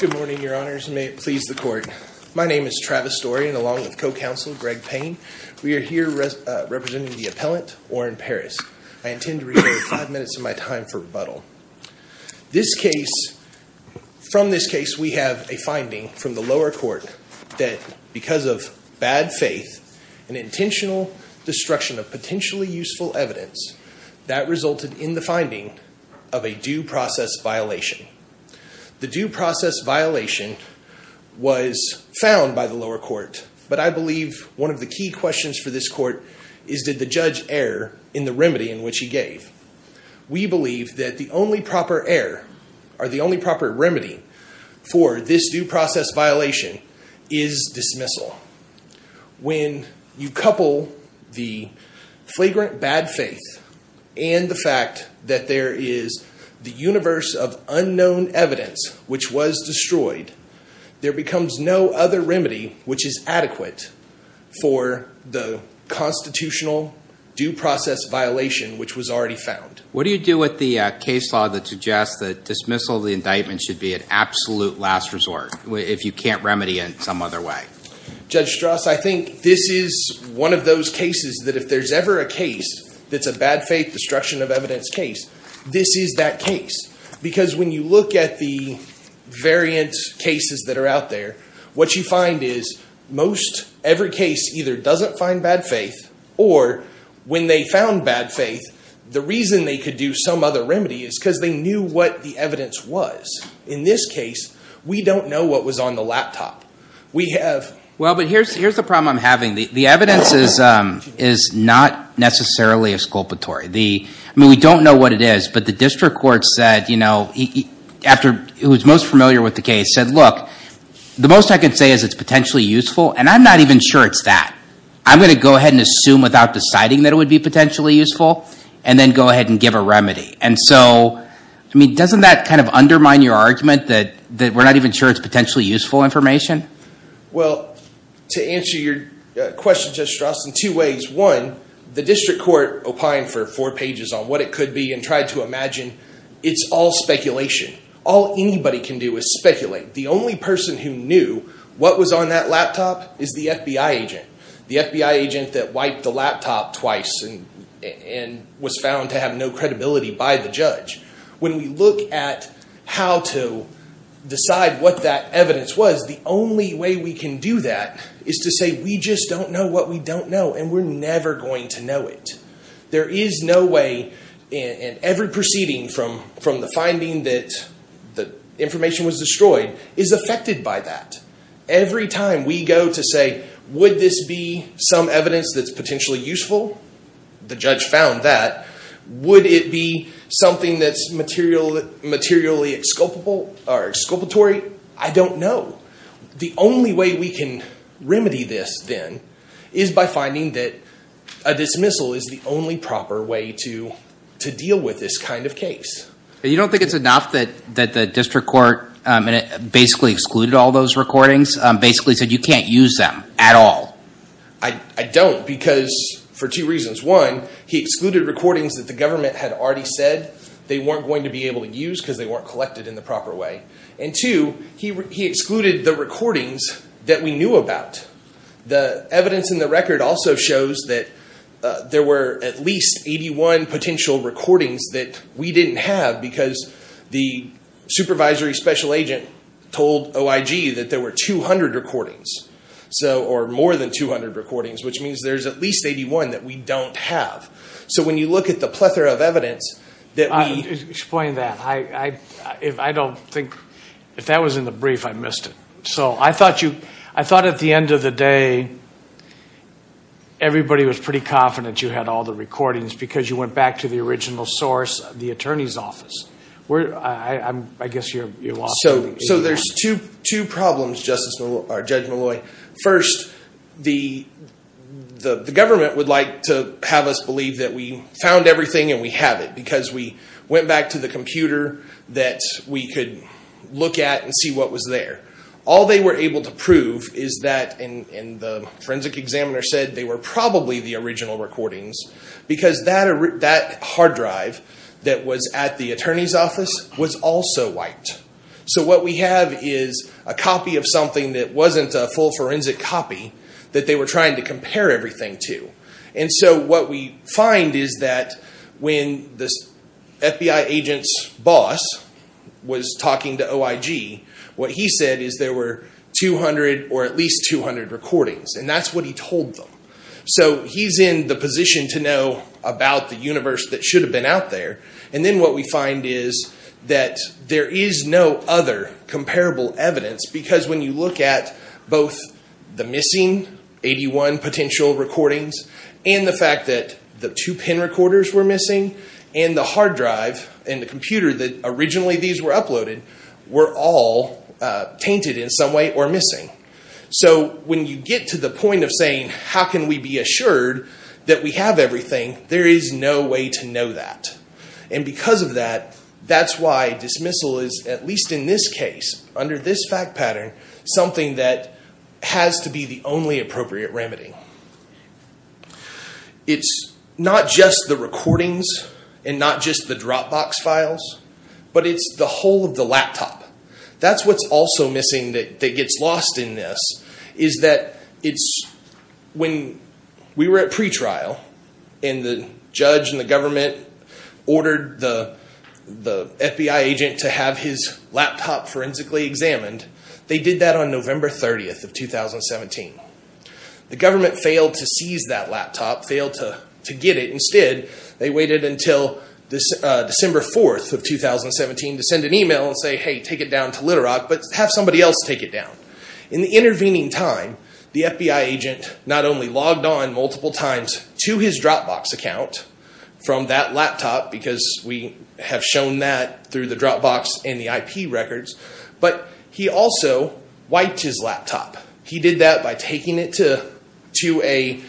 Good morning, Your Honors, and may it please the Court. My name is Travis Story, and along with co-counsel Greg Payne, we are here representing the appellant, Oren Paris. I intend to reserve five minutes of my time for rebuttal. From this case, we have a finding from the lower court that because of bad faith and intentional destruction of potentially useful evidence, that resulted in the finding of a due process violation. The due process violation was found by the lower court, but I believe one of the key questions for this court is did the judge err in the remedy in which he gave? We believe that the only proper error, or the only proper remedy, for this due process violation is dismissal. When you couple the flagrant bad faith and the fact that there is the universe of unknown evidence which was destroyed, there becomes no other remedy which is adequate for the constitutional due process violation which was already found. What do you do with the case law that suggests that dismissal of the indictment should be an absolute last resort if you can't remedy it some other way? Judge Strauss, I think this is one of those cases that if there's ever a case that's a bad faith destruction of evidence case, this is that case. Because when you look at the variant cases that are out there, what you find is most every case either doesn't find bad faith, or when they found bad faith, the reason they could do some other remedy is because they knew what the evidence was. In this case, we don't know what was on the laptop. We have. Well, but here's the problem I'm having. The evidence is not necessarily exculpatory. I mean, we don't know what it is. But the district court said, who's most familiar with the case, said, look, the most I can say is it's potentially useful. And I'm not even sure it's that. I'm going to go ahead and assume without deciding that it would be potentially useful, and then go ahead and give a remedy. I mean, doesn't that kind of undermine your argument that we're not even sure it's potentially useful information? Well, to answer your question, Judge Strauss, in two ways. One, the district court opined for four pages on what it could be and tried to imagine it's all speculation. All anybody can do is speculate. The only person who knew what was on that laptop is the FBI agent. The FBI agent that wiped the laptop twice and was found to have no credibility by the judge. When we look at how to decide what that evidence was, the only way we can do that is to say we just don't know what we don't know. And we're never going to know it. There is no way in every proceeding from the finding that the information was destroyed is affected by that. Every time we go to say, would this be some evidence that's potentially useful? The judge found that. Would it be something that's materially exculpatory? I don't know. The only way we can remedy this, then, is by finding that a dismissal is the only proper way to deal with this kind of case. You don't think it's enough that the district court basically excluded all those recordings, basically said you can't use them at all? I don't, because for two reasons. One, he excluded recordings that the government had already said they weren't going to be able to use because they weren't collected in the proper way. And two, he excluded the recordings that we knew about. The evidence in the record also shows that there were at least 81 potential recordings that we didn't have because the supervisory special agent told OIG that there were 200 recordings, or more than 200 recordings, which means there's at least 81 that we don't have. So when you look at the plethora of evidence that we- Explain that. I don't think, if that was in the brief, I missed it. So I thought at the end of the day, everybody was pretty confident you had all the recordings because you went back to the original source, the attorney's office. I guess you lost- So there's two problems, Judge Malloy. First, the government would like to have us believe that we found everything and we have it because we went back to the computer that we could look at and see what was there. All they were able to prove is that, and the forensic examiner said they were probably the original recordings because that hard drive that was at the attorney's office was also wiped. So what we have is a copy of something that wasn't a full forensic copy that they were trying to compare everything to. What we find is that when the FBI agent's boss was talking to OIG, what he said is there were 200 or at least 200 recordings, and that's what he told them. So he's in the position to know about the universe that should have been out there. Then what we find is that there is no other comparable evidence because when you look at both the missing 81 potential recordings and the fact that the two pin recorders were missing and the hard drive and the computer that originally these were uploaded were all tainted in some way or missing. So when you get to the point of saying how can we be assured that we have everything, there is no way to know that. And because of that, that's why dismissal is at least in this case, under this fact pattern, something that has to be the only appropriate remedy. It's not just the recordings and not just the Dropbox files, but it's the whole of the laptop. That's what's also missing that gets lost in this is that when we were at pretrial and the judge and the government ordered the FBI agent to have his laptop forensically examined, they did that on November 30th of 2017. The government failed to seize that laptop, failed to get it. Instead, they waited until December 4th of 2017 to send an email and say, hey, take it down to Little Rock, but have somebody else take it down. In the intervening time, the FBI agent not only logged on multiple times to his Dropbox account from that laptop because we have shown that through the Dropbox and the IP records, but he also wiped his laptop. He did that by taking it to a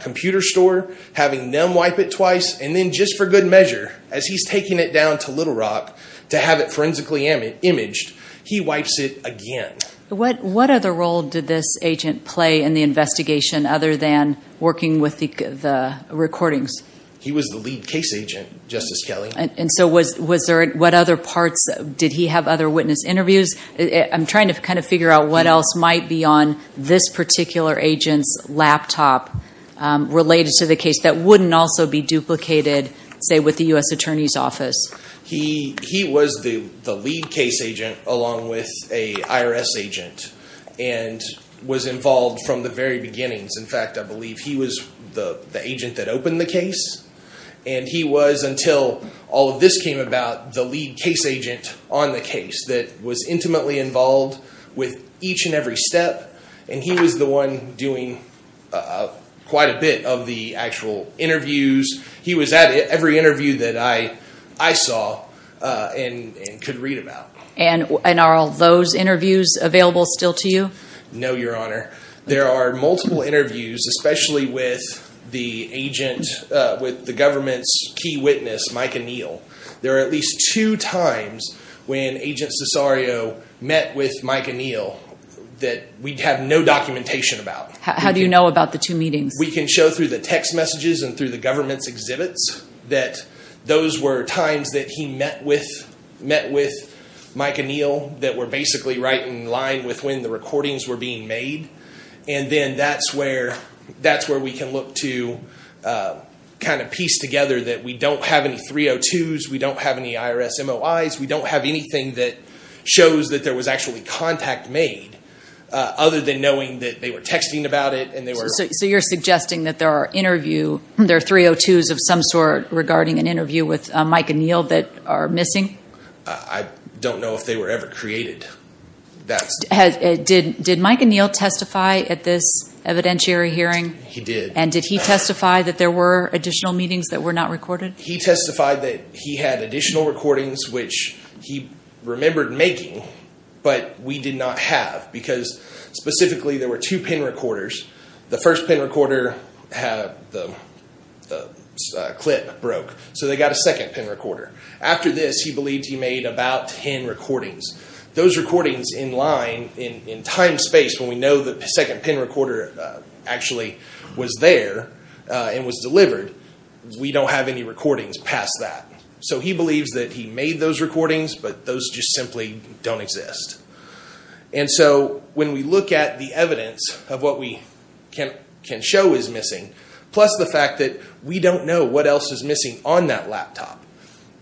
computer store, having them wipe it twice, and then just for good measure, as he's taking it down to Little Rock to have it forensically imaged, he wipes it again. What other role did this agent play in the investigation other than working with the recordings? He was the lead case agent, Justice Kelley. What other parts? Did he have other witness interviews? I'm trying to figure out what else might be on this particular agent's laptop related to the case that wouldn't also be duplicated, say, with the U.S. Attorney's Office. He was the lead case agent along with an IRS agent and was involved from the very beginnings. In fact, I believe he was the agent that opened the case. He was, until all of this came about, the lead case agent on the case that was intimately involved with each and every step. He was the one doing quite a bit of the actual interviews. He was at every interview that I saw and could read about. Are all those interviews available still to you? No, Your Honor. There are multiple interviews, especially with the government's key witness, Mike O'Neill. There are at least two times when Agent Cesario met with Mike O'Neill that we have no documentation about. How do you know about the two meetings? We can show through the text messages and through the government's exhibits that those were times that he met with Mike O'Neill that were basically right in line with when the recordings were being made. That's where we can look to piece together that we don't have any 302s. We don't have any IRS MOIs. We don't have anything that shows that there was actually contact made other than knowing that they were texting about it. So you're suggesting that there are 302s of some sort regarding an interview with Mike O'Neill that are missing? I don't know if they were ever created. Did Mike O'Neill testify at this evidentiary hearing? He did. And did he testify that there were additional meetings that were not recorded? He testified that he had additional recordings, which he remembered making, but we did not have because specifically there were two pin recorders. The first pin recorder clip broke, so they got a second pin recorder. After this, he believed he made about ten recordings. Those recordings in line, in time space, when we know the second pin recorder actually was there and was delivered, we don't have any recordings past that. So he believes that he made those recordings, but those just simply don't exist. And so when we look at the evidence of what we can show is missing, plus the fact that we don't know what else is missing on that laptop,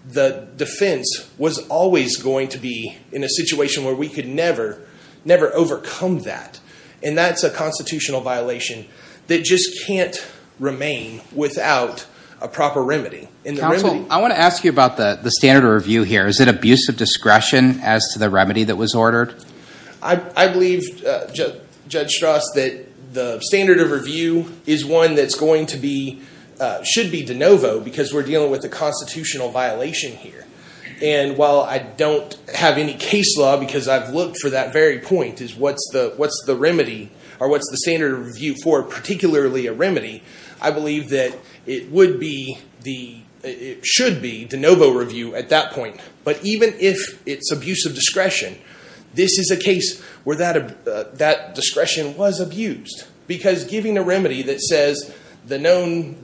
the defense was always going to be in a situation where we could never overcome that, and that's a constitutional violation that just can't remain without a proper remedy. Counsel, I want to ask you about the standard of review here. Is it abuse of discretion as to the remedy that was ordered? I believe, Judge Strass, that the standard of review is one that's going to be, should be de novo because we're dealing with a constitutional violation here. And while I don't have any case law because I've looked for that very point, is what's the remedy or what's the standard of review for particularly a remedy, I believe that it would be the, it should be de novo review at that point. But even if it's abuse of discretion, this is a case where that discretion was abused because giving a remedy that says the known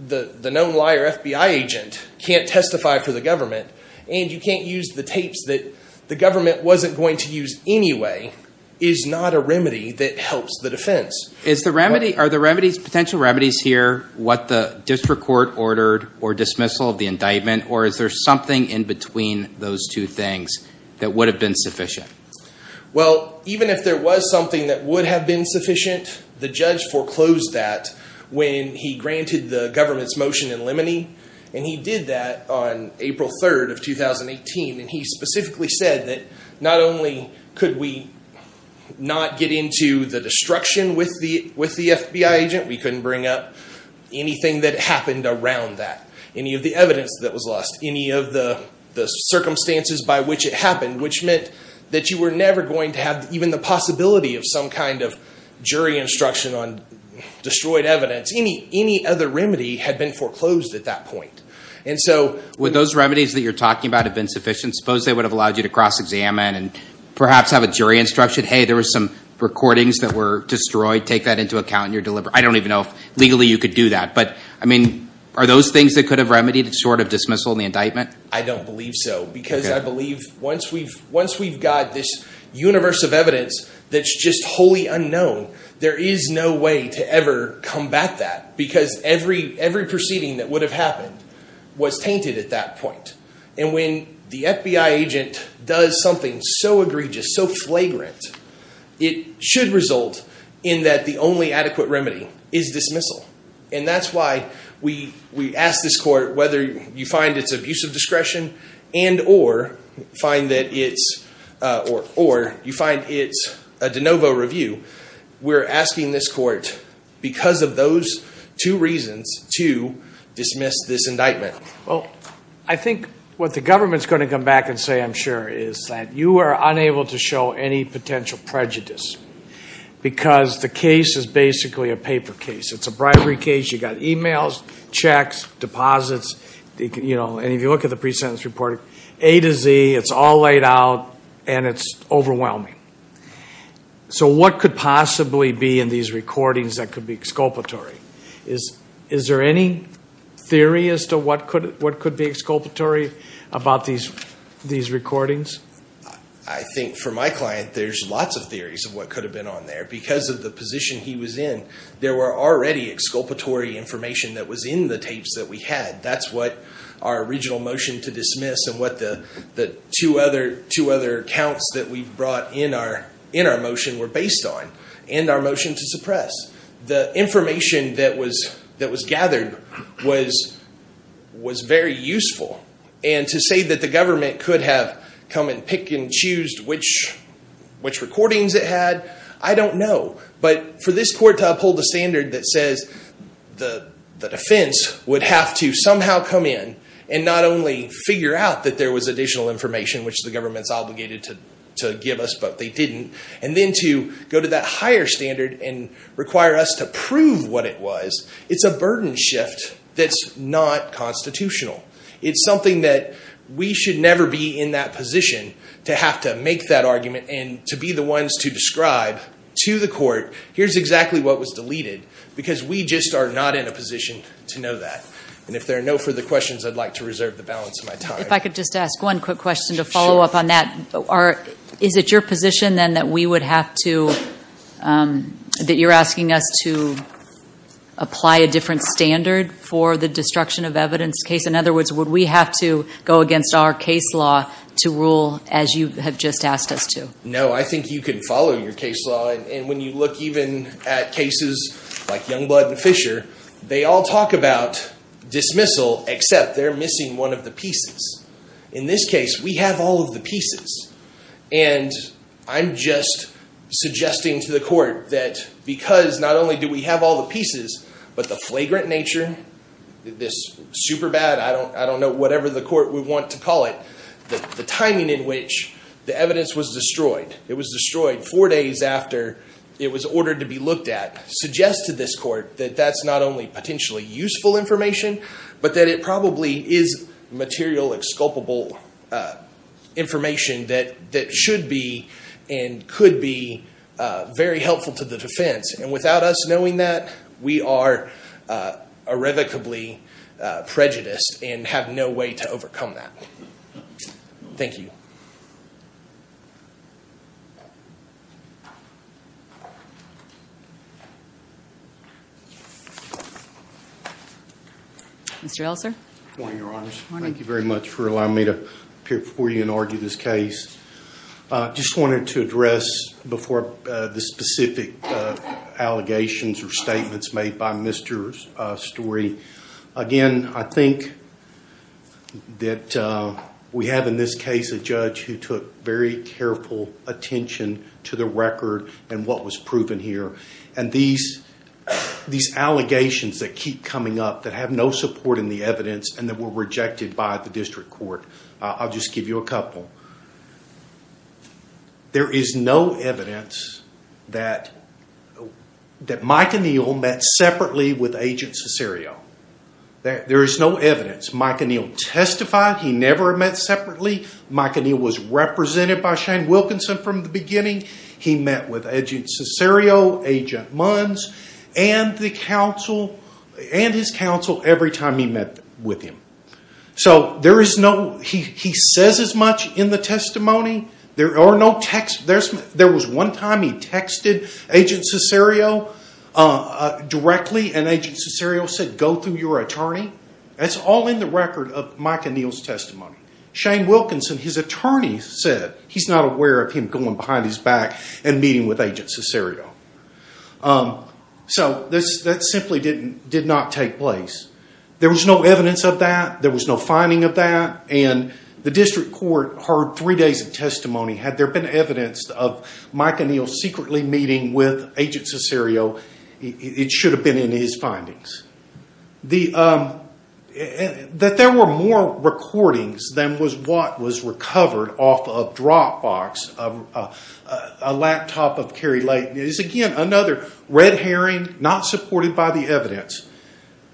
liar FBI agent can't testify for the government and you can't use the tapes that the government wasn't going to use anyway is not a remedy that helps the defense. Are the remedies, potential remedies here what the district court ordered or dismissal of the indictment or is there something in between those two things that would have been sufficient? Well, even if there was something that would have been sufficient, the judge foreclosed that when he granted the government's motion in limine and he did that on April 3rd of 2018 and he specifically said that not only could we not get into the destruction with the FBI agent, we couldn't bring up anything that happened around that, any of the evidence that was lost, any of the circumstances by which it happened, which meant that you were never going to have even the possibility of some kind of jury instruction on destroyed evidence. Any other remedy had been foreclosed at that point. And so would those remedies that you're talking about have been sufficient? Suppose they would have allowed you to cross-examine and perhaps have a jury instruction, say, hey, there were some recordings that were destroyed, take that into account. I don't even know if legally you could do that. But, I mean, are those things that could have remedied short of dismissal in the indictment? I don't believe so because I believe once we've got this universe of evidence that's just wholly unknown, there is no way to ever combat that because every proceeding that would have happened was tainted at that point. And when the FBI agent does something so egregious, so flagrant, it should result in that the only adequate remedy is dismissal. And that's why we ask this court whether you find it's abusive discretion and or you find it's a de novo review, we're asking this court because of those two reasons to dismiss this indictment. Well, I think what the government's going to come back and say, I'm sure, is that you are unable to show any potential prejudice because the case is basically a paper case. It's a bribery case. You've got e-mails, checks, deposits, and if you look at the pre-sentence report, A to Z, it's all laid out and it's overwhelming. So what could possibly be in these recordings that could be exculpatory? Is there any theory as to what could be exculpatory about these recordings? I think for my client, there's lots of theories of what could have been on there. Because of the position he was in, there were already exculpatory information that was in the tapes that we had. That's what our original motion to dismiss and what the two other accounts that we brought in our motion were based on and our motion to suppress. The information that was gathered was very useful. And to say that the government could have come and pick and choose which recordings it had, I don't know. But for this court to uphold a standard that says the defense would have to somehow come in and not only figure out that there was additional information, which the government's obligated to give us but they didn't, and then to go to that higher standard and require us to prove what it was, it's a burden shift that's not constitutional. It's something that we should never be in that position to have to make that argument and to be the ones to describe to the court, here's exactly what was deleted because we just are not in a position to know that. And if there are no further questions, I'd like to reserve the balance of my time. If I could just ask one quick question to follow up on that. Is it your position then that we would have to, that you're asking us to apply a different standard for the destruction of evidence case? In other words, would we have to go against our case law to rule as you have just asked us to? No, I think you can follow your case law. And when you look even at cases like Youngblood and Fisher, they all talk about dismissal except they're missing one of the pieces. In this case, we have all of the pieces. And I'm just suggesting to the court that because not only do we have all the pieces, but the flagrant nature, this super bad, I don't know, whatever the court would want to call it, the timing in which the evidence was destroyed, it was destroyed four days after it was ordered to be looked at, suggests to this court that that's not only potentially useful information, but that it probably is material, exculpable information that should be and could be very helpful to the defense. And without us knowing that, we are irrevocably prejudiced and have no way to overcome that. Thank you. Mr. Elser? Good morning, Your Honors. Good morning. Thank you very much for allowing me to appear before you and argue this case. I just wanted to address before the specific allegations or statements made by Mr. Storey. Again, I think that we have in this case a judge who took very careful attention to the record and what was proven here. And these allegations that keep coming up that have no support in the evidence and that were rejected by the district court, I'll just give you a couple. There is no evidence that Mike O'Neill met separately with Agent Cesario. There is no evidence. Mike O'Neill testified he never met separately. Mike O'Neill was represented by Shane Wilkinson from the beginning. He met with Agent Cesario, Agent Munns, and his counsel every time he met with him. So he says as much in the testimony. There was one time he texted Agent Cesario directly, and Agent Cesario said, go through your attorney. That's all in the record of Mike O'Neill's testimony. Shane Wilkinson, his attorney, said he's not aware of him going behind his back and meeting with Agent Cesario. So that simply did not take place. There was no evidence of that. There was no finding of that. And the district court heard three days of testimony. Had there been evidence of Mike O'Neill secretly meeting with Agent Cesario, it should have been in his findings. That there were more recordings than was what was recovered off of Dropbox, a laptop of Kerry Layton, is, again, another red herring not supported by the evidence.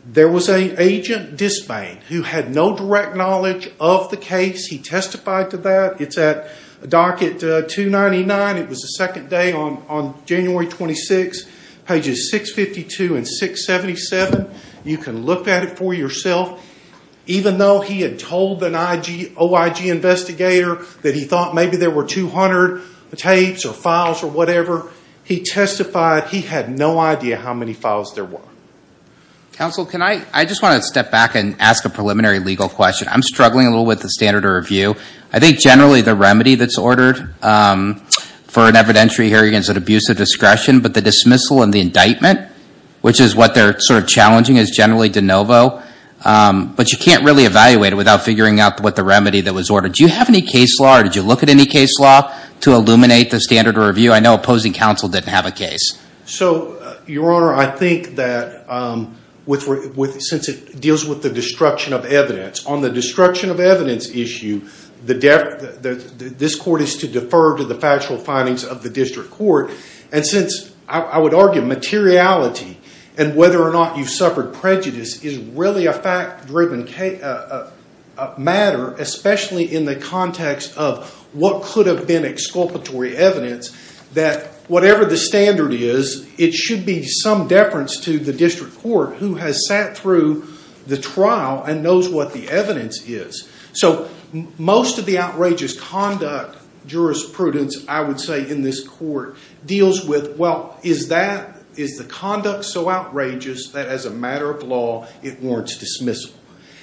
There was an agent, Dispain, who had no direct knowledge of the case. He testified to that. It's at Docket 299. It was the second day on January 26, pages 652 and 677. You can look at it for yourself. Even though he had told an OIG investigator that he thought maybe there were 200 tapes or files or whatever, he testified he had no idea how many files there were. Counsel, I just want to step back and ask a preliminary legal question. I'm struggling a little with the standard of review. I think generally the remedy that's ordered for an evidentiary hearing is an abuse of discretion, but the dismissal and the indictment, which is what they're sort of challenging, is generally de novo. But you can't really evaluate it without figuring out what the remedy that was ordered. Do you have any case law or did you look at any case law to illuminate the standard of review? I know opposing counsel didn't have a case. So, Your Honor, I think that since it deals with the destruction of evidence, on the destruction of evidence issue, this court is to defer to the factual findings of the district court. And since, I would argue, materiality and whether or not you've suffered prejudice is really a fact-driven matter, especially in the context of what could have been exculpatory evidence, that whatever the standard is, it should be some deference to the district court, who has sat through the trial and knows what the evidence is. So, most of the outrageous conduct jurisprudence, I would say, in this court deals with, well, is the conduct so outrageous that as a matter of law it warrants dismissal?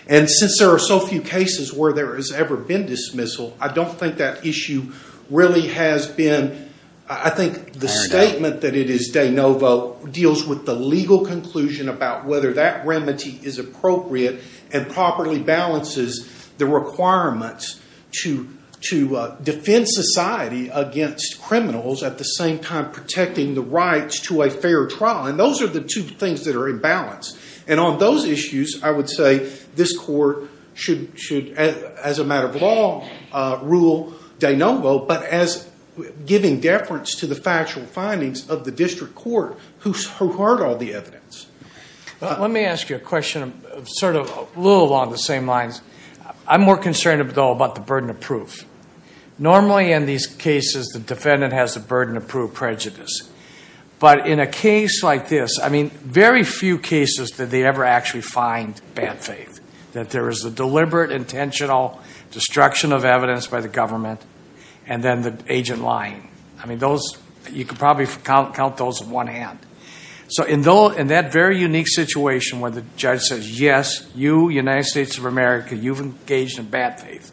And since there are so few cases where there has ever been dismissal, I don't think that issue really has been... I think the statement that it is de novo deals with the legal conclusion about whether that remedy is appropriate and properly balances the requirements to defend society against criminals, at the same time protecting the rights to a fair trial. And those are the two things that are in balance. And on those issues, I would say this court should, as a matter of law, rule de novo, but as giving deference to the factual findings of the district court, who heard all the evidence. Let me ask you a question, sort of a little along the same lines. I'm more concerned, though, about the burden of proof. Normally, in these cases, the defendant has the burden of proof prejudice. But in a case like this, I mean, very few cases did they ever actually find bad faith, that there is a deliberate, intentional destruction of evidence by the government, and then the agent lying. I mean, you could probably count those in one hand. So in that very unique situation where the judge says, yes, you, United States of America, you've engaged in bad faith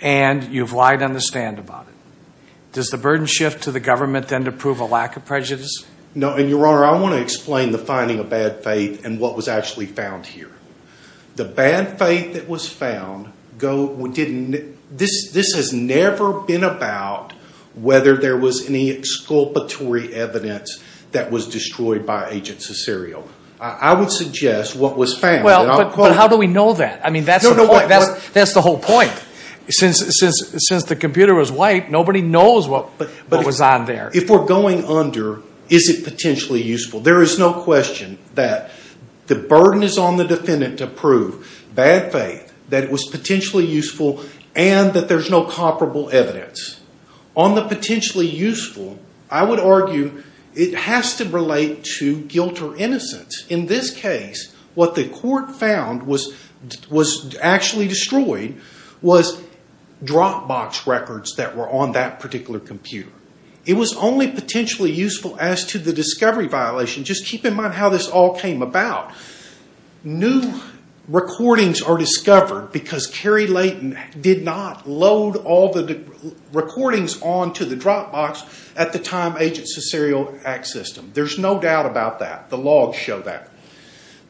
and you've lied on the stand about it, does the burden shift to the government then to prove a lack of prejudice? No, and, Your Honor, I want to explain the finding of bad faith and what was actually found here. The bad faith that was found, this has never been about whether there was any exculpatory evidence that was destroyed by Agent Cesario. I would suggest what was found. But how do we know that? I mean, that's the whole point. Since the computer was wiped, nobody knows what was on there. If we're going under, is it potentially useful? There is no question that the burden is on the defendant to prove bad faith, that it was potentially useful, and that there's no comparable evidence. On the potentially useful, I would argue it has to relate to guilt or innocence. In this case, what the court found was actually destroyed was drop box records that were on that particular computer. It was only potentially useful as to the discovery violation. Just keep in mind how this all came about. New recordings are discovered because Cary Layton did not load all the recordings onto the drop box at the time Agent Cesario accessed them. There's no doubt about that. The logs show that.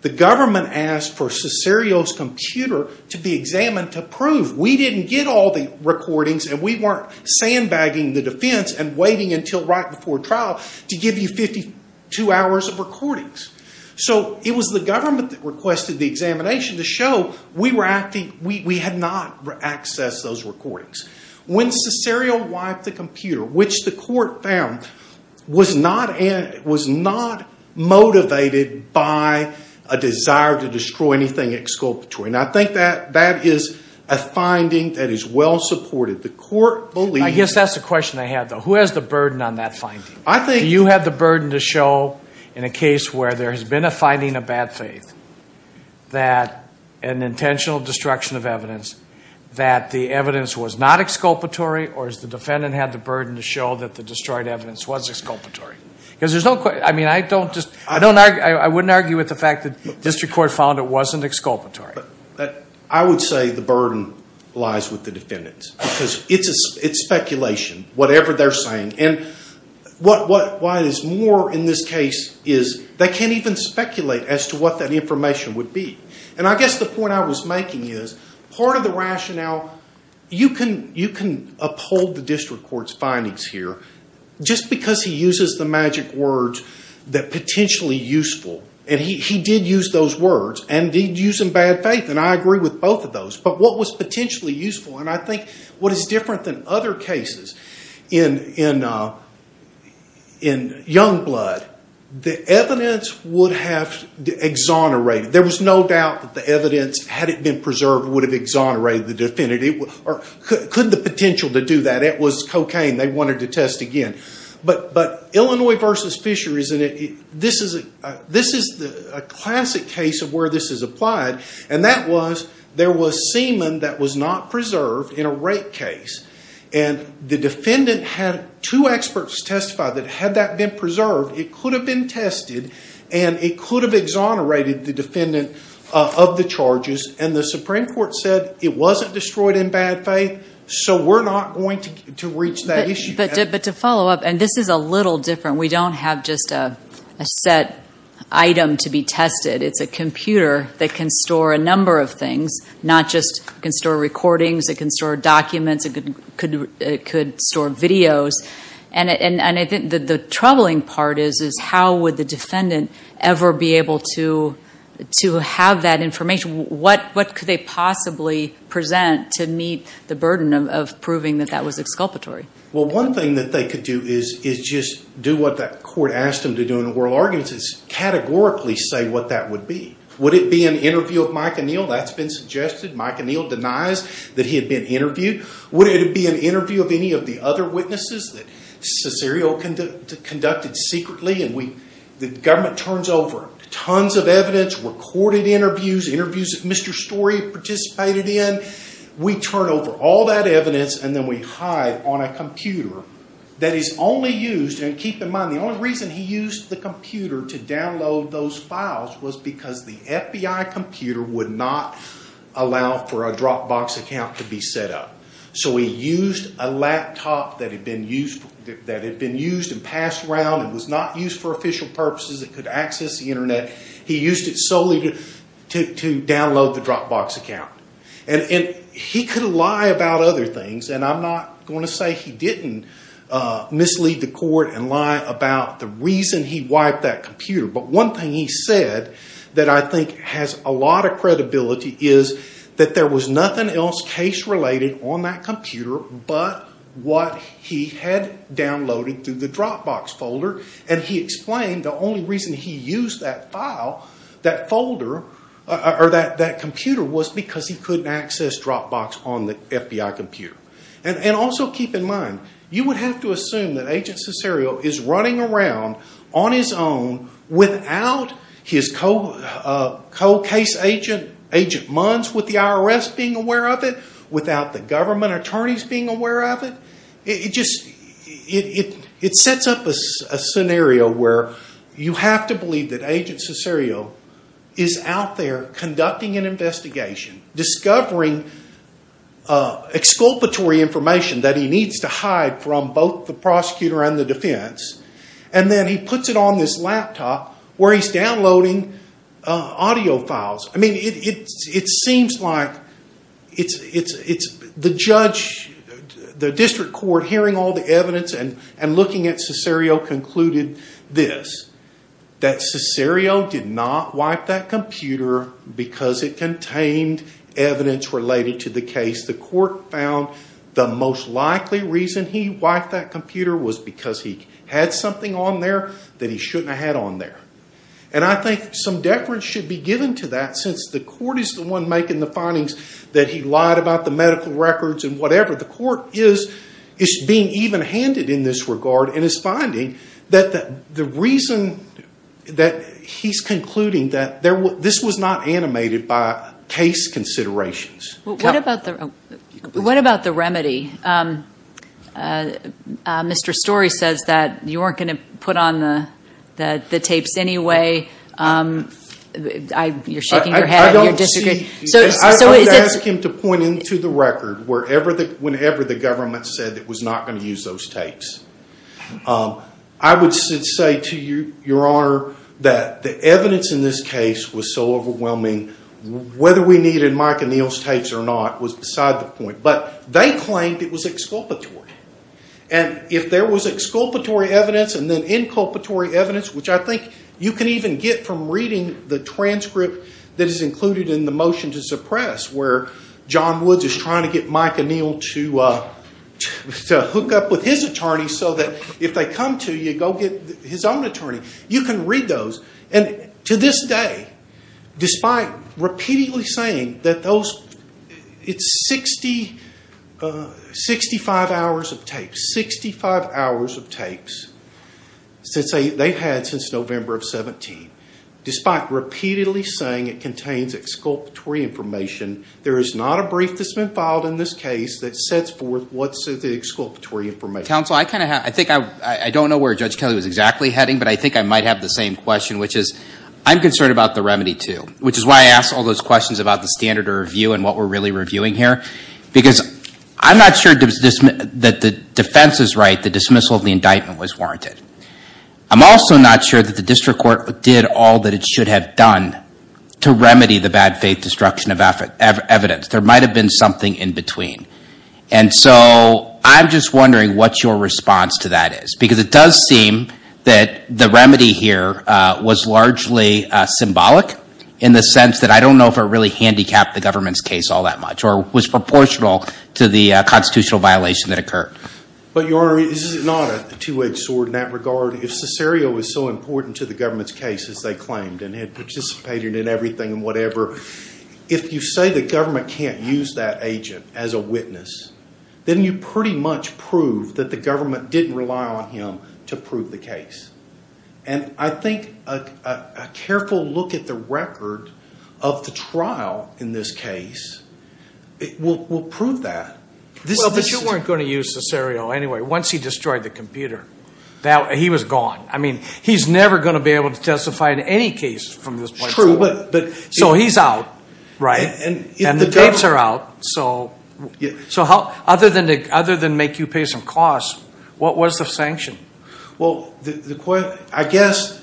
The government asked for Cesario's computer to be examined to prove we didn't get all the recordings and we weren't sandbagging the defense and waiting until right before trial to give you 52 hours of recordings. So it was the government that requested the examination to show we had not accessed those recordings. When Cesario wiped the computer, which the court found, was not motivated by a desire to destroy anything exculpatory. I think that is a finding that is well supported. I guess that's the question I have, though. Who has the burden on that finding? Do you have the burden to show, in a case where there has been a finding of bad faith, that an intentional destruction of evidence, that the evidence was not exculpatory, or has the defendant had the burden to show that the destroyed evidence was exculpatory? I wouldn't argue with the fact that the district court found it wasn't exculpatory. I would say the burden lies with the defendants because it's speculation, whatever they're saying. What is more in this case is they can't even speculate as to what that information would be. I guess the point I was making is part of the rationale, you can uphold the district court's findings here just because he uses the magic words that are potentially useful. He did use those words, and he did use them in bad faith, and I agree with both of those. But what was potentially useful, and I think what is different than other cases, in Youngblood, the evidence would have exonerated. There was no doubt that the evidence, had it been preserved, would have exonerated the defendant. Could the potential to do that? It was cocaine. They wanted to test again. But Illinois v. Fisher, this is a classic case of where this is applied, and that was there was semen that was not preserved in a rape case. The defendant had two experts testify that had that been preserved, it could have been tested, and it could have exonerated the defendant of the charges. The Supreme Court said it wasn't destroyed in bad faith, so we're not going to reach that issue. But to follow up, and this is a little different, we don't have just a set item to be tested. It's a computer that can store a number of things, not just can store recordings. It can store documents. It could store videos. And I think the troubling part is how would the defendant ever be able to have that information? What could they possibly present to meet the burden of proving that that was exculpatory? Well, one thing that they could do is just do what that court asked them to do in the oral arguments, is categorically say what that would be. Would it be an interview of Mike O'Neill? That's been suggested. Mike O'Neill denies that he had been interviewed. Would it be an interview of any of the other witnesses that Cesario conducted secretly? And the government turns over tons of evidence, recorded interviews, interviews that Mr. Story participated in. We turn over all that evidence, and then we hide on a computer that is only used, and keep in mind the only reason he used the computer to download those files was because the FBI computer would not allow for a Dropbox account to be set up. So he used a laptop that had been used and passed around and was not used for official purposes. It could access the Internet. He used it solely to download the Dropbox account. And he could lie about other things, and I'm not going to say he didn't mislead the court and lie about the reason he wiped that computer. But one thing he said that I think has a lot of credibility is that there was nothing else case-related on that computer but what he had downloaded through the Dropbox folder. And he explained the only reason he used that file, that folder, or that computer was because he couldn't access Dropbox on the FBI computer. And also keep in mind, you would have to assume that Agent Cesario is running around on his own without his co-case agent, Agent Munns with the IRS being aware of it, without the government attorneys being aware of it. It sets up a scenario where you have to believe that Agent Cesario is out there conducting an investigation, discovering exculpatory information that he needs to hide from both the prosecutor and the defense, and then he puts it on this laptop where he's downloading audio files. I mean, it seems like it's the judge, the district court, hearing all the evidence and looking at Cesario, concluded this, that Cesario did not wipe that computer because it contained evidence related to the case. The court found the most likely reason he wiped that computer was because he had something on there that he shouldn't have had on there. And I think some deference should be given to that since the court is the one making the findings that he lied about the medical records and whatever. The court is being even-handed in this regard and is finding that the reason that he's concluding that this was not animated by case considerations. What about the remedy? Mr. Story says that you weren't going to put on the tapes anyway. You're shaking your head and you're disagreeing. I'm going to ask him to point into the record whenever the government said it was not going to use those tapes. I would say to Your Honor that the evidence in this case was so overwhelming, whether we needed Mike O'Neill's tapes or not was beside the point. But they claimed it was exculpatory. And if there was exculpatory evidence and then inculpatory evidence, which I think you can even get from reading the transcript that is included in the motion to suppress where John Woods is trying to get Mike O'Neill to hook up with his attorney so that if they come to you, you go get his own attorney. You can read those. And to this day, despite repeatedly saying that it's 65 hours of tapes, 65 hours of tapes they've had since November of 17, despite repeatedly saying it contains exculpatory information, there is not a brief that's been filed in this case that sets forth what's the exculpatory information. Counsel, I don't know where Judge Kelly was exactly heading, but I think I might have the same question, which is I'm concerned about the remedy too, which is why I asked all those questions about the standard of review and what we're really reviewing here. Because I'm not sure that the defense is right, the dismissal of the indictment was warranted. I'm also not sure that the district court did all that it should have done to remedy the bad faith destruction of evidence. There might have been something in between. And so I'm just wondering what your response to that is. Because it does seem that the remedy here was largely symbolic in the sense that I don't know if it really handicapped the government's case all that much or was proportional to the constitutional violation that occurred. But, Your Honor, this is not a two-edged sword in that regard. If Cesario was so important to the government's case as they claimed and had participated in everything and whatever, if you say the government can't use that agent as a witness, then you pretty much prove that the government didn't rely on him to prove the case. And I think a careful look at the record of the trial in this case will prove that. But you weren't going to use Cesario anyway once he destroyed the computer. He was gone. I mean, he's never going to be able to testify in any case from this point forward. So he's out, right? And the tapes are out. So other than make you pay some costs, what was the sanction? Well, I guess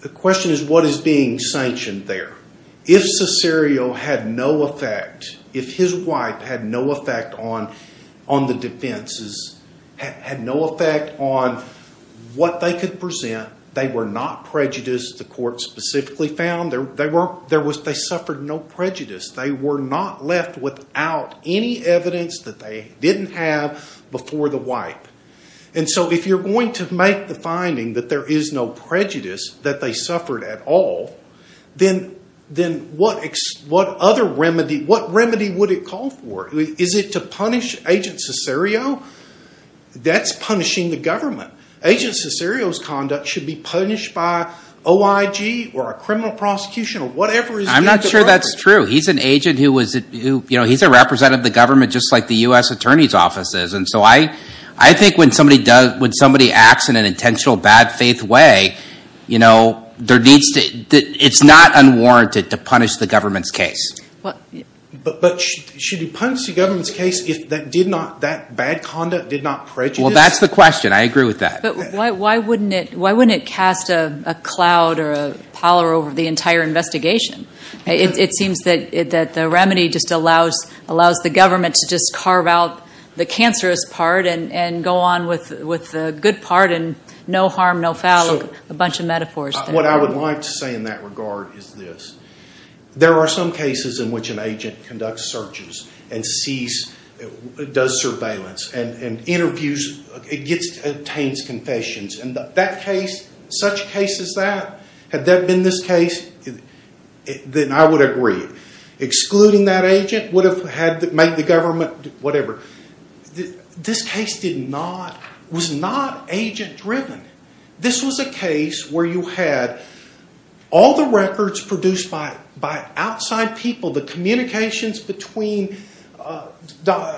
the question is what is being sanctioned there. If Cesario had no effect, if his wipe had no effect on the defenses, had no effect on what they could present, they were not prejudiced, the court specifically found. They suffered no prejudice. They were not left without any evidence that they didn't have before the wipe. And so if you're going to make the finding that there is no prejudice, that they suffered at all, then what other remedy, what remedy would it call for? Is it to punish Agent Cesario? That's punishing the government. Agent Cesario's conduct should be punished by OIG or a criminal prosecution or whatever. I'm not sure that's true. He's an agent who was a representative of the government just like the U.S. Attorney's Office is. And so I think when somebody acts in an intentional bad faith way, it's not unwarranted to punish the government's case. But should you punish the government's case if that bad conduct did not prejudice? Well, that's the question. I agree with that. But why wouldn't it cast a cloud or a pallor over the entire investigation? It seems that the remedy just allows the government to just carve out the cancerous part and go on with the good part and no harm, no foul, a bunch of metaphors. What I would like to say in that regard is this. There are some cases in which an agent conducts searches and sees, does surveillance, and interviews, obtains confessions. And that case, such a case as that, had that been this case, then I would agree. Excluding that agent would have made the government whatever. This case was not agent-driven. This was a case where you had all the records produced by outside people, the communications between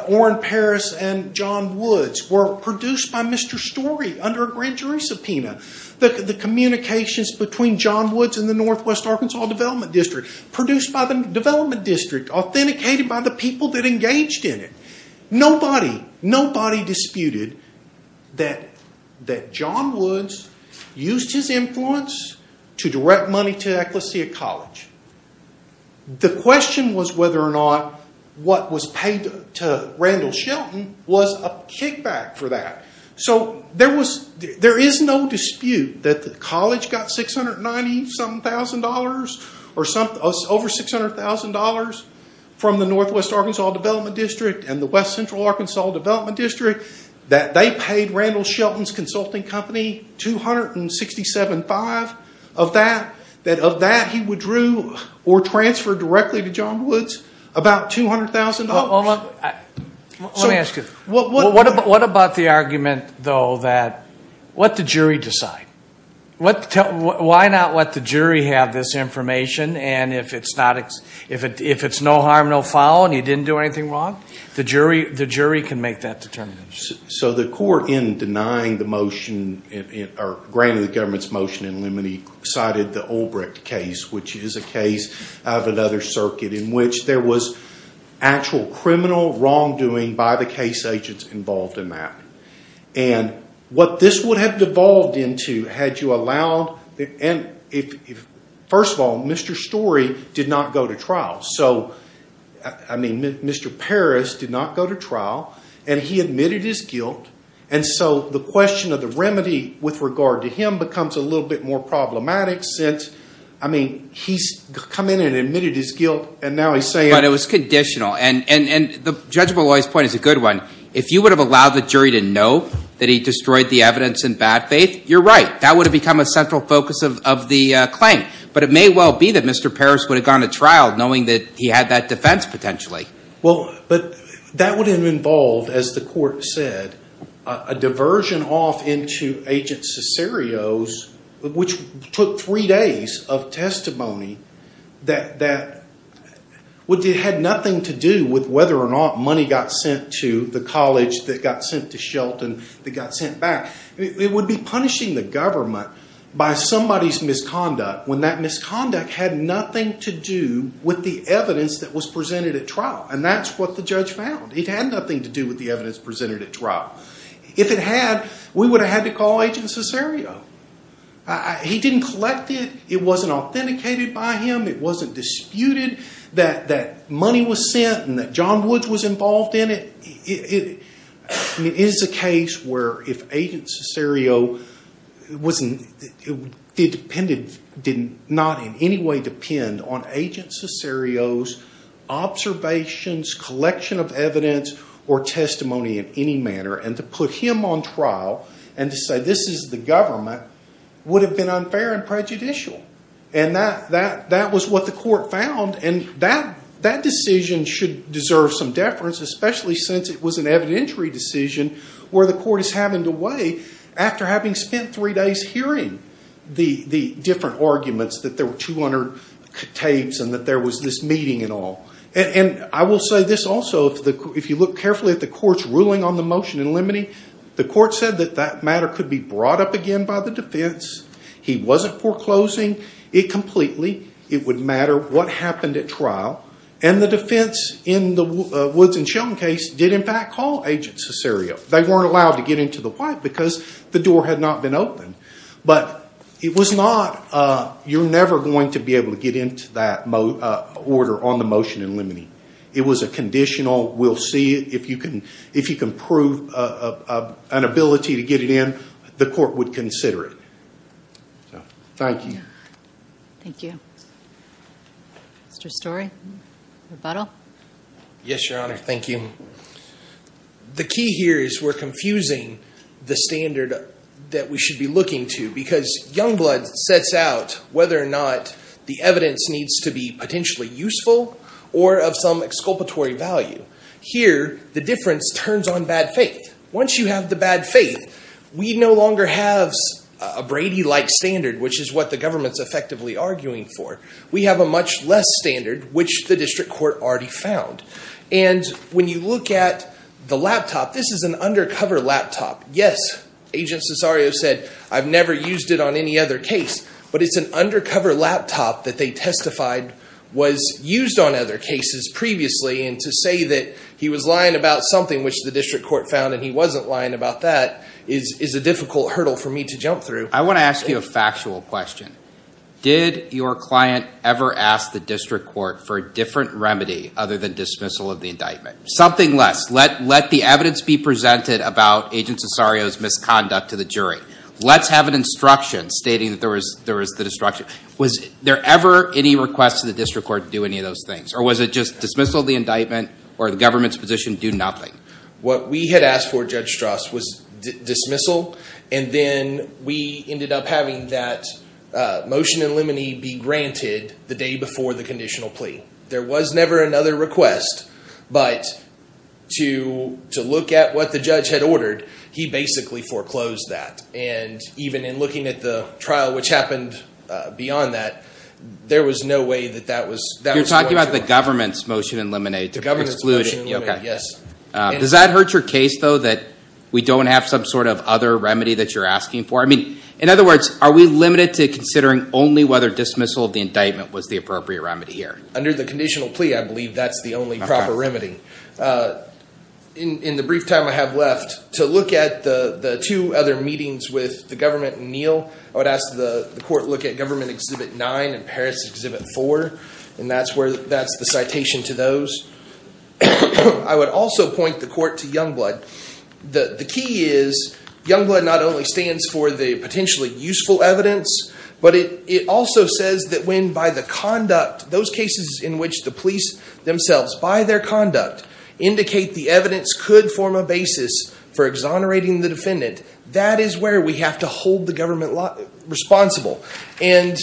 Orrin Paris and John Woods were produced by Mr. Story under a grand jury subpoena. The communications between John Woods and the Northwest Arkansas Development District produced by the development district, authenticated by the people that engaged in it. Nobody, nobody disputed that John Woods used his influence to direct money to Ecclesiast College. The question was whether or not what was paid to Randall Shelton was a kickback for that. So there is no dispute that the college got $690-something thousand dollars or over $600,000 from the Northwest Arkansas Development District and the West Central Arkansas Development District. They paid Randall Shelton's consulting company $267,500 of that. Of that, he withdrew or transferred directly to John Woods about $200,000. Let me ask you, what about the argument, though, that let the jury decide? Why not let the jury have this information and if it's no harm, no foul, and he didn't do anything wrong, the jury can make that determination? So the court, in denying the motion or granting the government's motion in limine, cited the Olbrecht case, which is a case out of another circuit in which there was actual criminal wrongdoing by the case agents involved in that. And what this would have devolved into had you allowed, and first of all, Mr. Story did not go to trial. So, I mean, Mr. Parris did not go to trial, and he admitted his guilt, and so the question of the remedy with regard to him becomes a little bit more problematic I mean, he's come in and admitted his guilt, and now he's saying But it was conditional, and Judge Molloy's point is a good one. If you would have allowed the jury to know that he destroyed the evidence in bad faith, you're right. That would have become a central focus of the claim. But it may well be that Mr. Parris would have gone to trial knowing that he had that defense potentially. Well, but that would have involved, as the court said, a diversion off into Agent Cesario's, which took three days of testimony, that had nothing to do with whether or not money got sent to the college, that got sent to Shelton, that got sent back. It would be punishing the government by somebody's misconduct, when that misconduct had nothing to do with the evidence that was presented at trial. And that's what the judge found. It had nothing to do with the evidence presented at trial. If it had, we would have had to call Agent Cesario. He didn't collect it. It wasn't authenticated by him. It wasn't disputed that money was sent and that John Woods was involved in it. It is a case where if Agent Cesario wasn't, the defendant did not in any way depend on Agent Cesario's observations, collection of evidence, or testimony in any manner, and to put him on trial and to say this is the government, would have been unfair and prejudicial. And that was what the court found. And that decision should deserve some deference, especially since it was an evidentiary decision where the court is having to weigh, after having spent three days hearing the different arguments, that there were 200 tapes and that there was this meeting and all. And I will say this also. If you look carefully at the court's ruling on the motion in limine, the court said that that matter could be brought up again by the defense. He wasn't foreclosing it completely. It would matter what happened at trial. And the defense in the Woods and Sheldon case did in fact call Agent Cesario. They weren't allowed to get into the White because the door had not been opened. But you're never going to be able to get into that order on the motion in limine. It was a conditional, we'll see if you can prove an ability to get it in, the court would consider it. Thank you. Thank you. Mr. Storey, rebuttal. Yes, Your Honor, thank you. The key here is we're confusing the standard that we should be looking to because Youngblood sets out whether or not the evidence needs to be potentially useful or of some exculpatory value. Here, the difference turns on bad faith. Once you have the bad faith, we no longer have a Brady-like standard, which is what the government's effectively arguing for. We have a much less standard, which the district court already found. And when you look at the laptop, this is an undercover laptop. Yes, Agent Cesario said, I've never used it on any other case. But it's an undercover laptop that they testified was used on other cases previously. And to say that he was lying about something which the district court found and he wasn't lying about that is a difficult hurdle for me to jump through. I want to ask you a factual question. Did your client ever ask the district court for a different remedy other than dismissal of the indictment? Something less. Let the evidence be presented about Agent Cesario's misconduct to the jury. Let's have an instruction stating that there was the destruction. Was there ever any request to the district court to do any of those things? Or was it just dismissal of the indictment or the government's position, do nothing? What we had asked for, Judge Strauss, was dismissal. And then we ended up having that motion in limine be granted the day before the conditional plea. There was never another request. But to look at what the judge had ordered, he basically foreclosed that. And even in looking at the trial, which happened beyond that, there was no way that that was You're talking about the government's motion in limine. The government's motion in limine, yes. Does that hurt your case, though, that we don't have some sort of other remedy that you're asking for? I mean, in other words, are we limited to considering only whether dismissal of the indictment was the appropriate remedy here? Under the conditional plea, I believe that's the only proper remedy. In the brief time I have left, to look at the two other meetings with the government and Neal, I would ask the court to look at Government Exhibit 9 and Paris Exhibit 4. And that's the citation to those. I would also point the court to Youngblood. The key is Youngblood not only stands for the potentially useful evidence, but it also says that when by the conduct, those cases in which the police themselves, by their conduct, indicate the evidence could form a basis for exonerating the defendant, that is where we have to hold the government responsible. And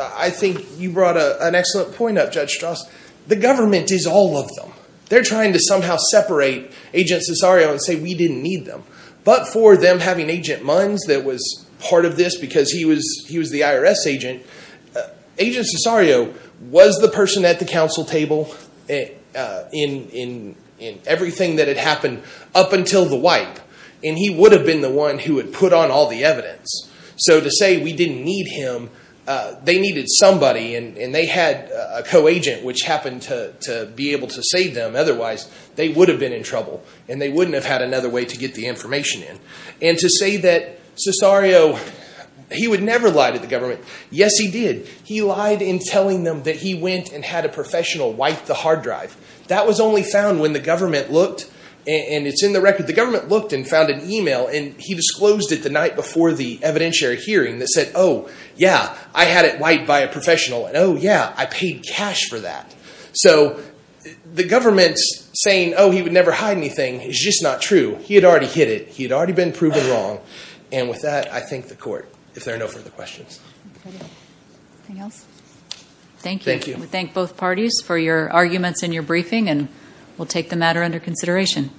I think you brought an excellent point up, Judge Strauss. The government is all of them. They're trying to somehow separate Agent Cesario and say we didn't need them. But for them having Agent Munns that was part of this because he was the IRS agent, Agent Cesario was the person at the counsel table in everything that had happened up until the wipe. And he would have been the one who had put on all the evidence. So to say we didn't need him, they needed somebody, and they had a co-agent which happened to be able to save them. Otherwise, they would have been in trouble, and they wouldn't have had another way to get the information in. And to say that Cesario, he would never lie to the government. Yes, he did. He lied in telling them that he went and had a professional wipe the hard drive. That was only found when the government looked, and it's in the record, the government looked and found an email, and he disclosed it the night before the evidentiary hearing that said, oh, yeah, I had it wiped by a professional, and oh, yeah, I paid cash for that. So the government's saying, oh, he would never hide anything is just not true. He had already hid it. He had already been proven wrong. And with that, I thank the court if there are no further questions. Anything else? Thank you. We thank both parties for your arguments and your briefing, and we'll take the matter under consideration.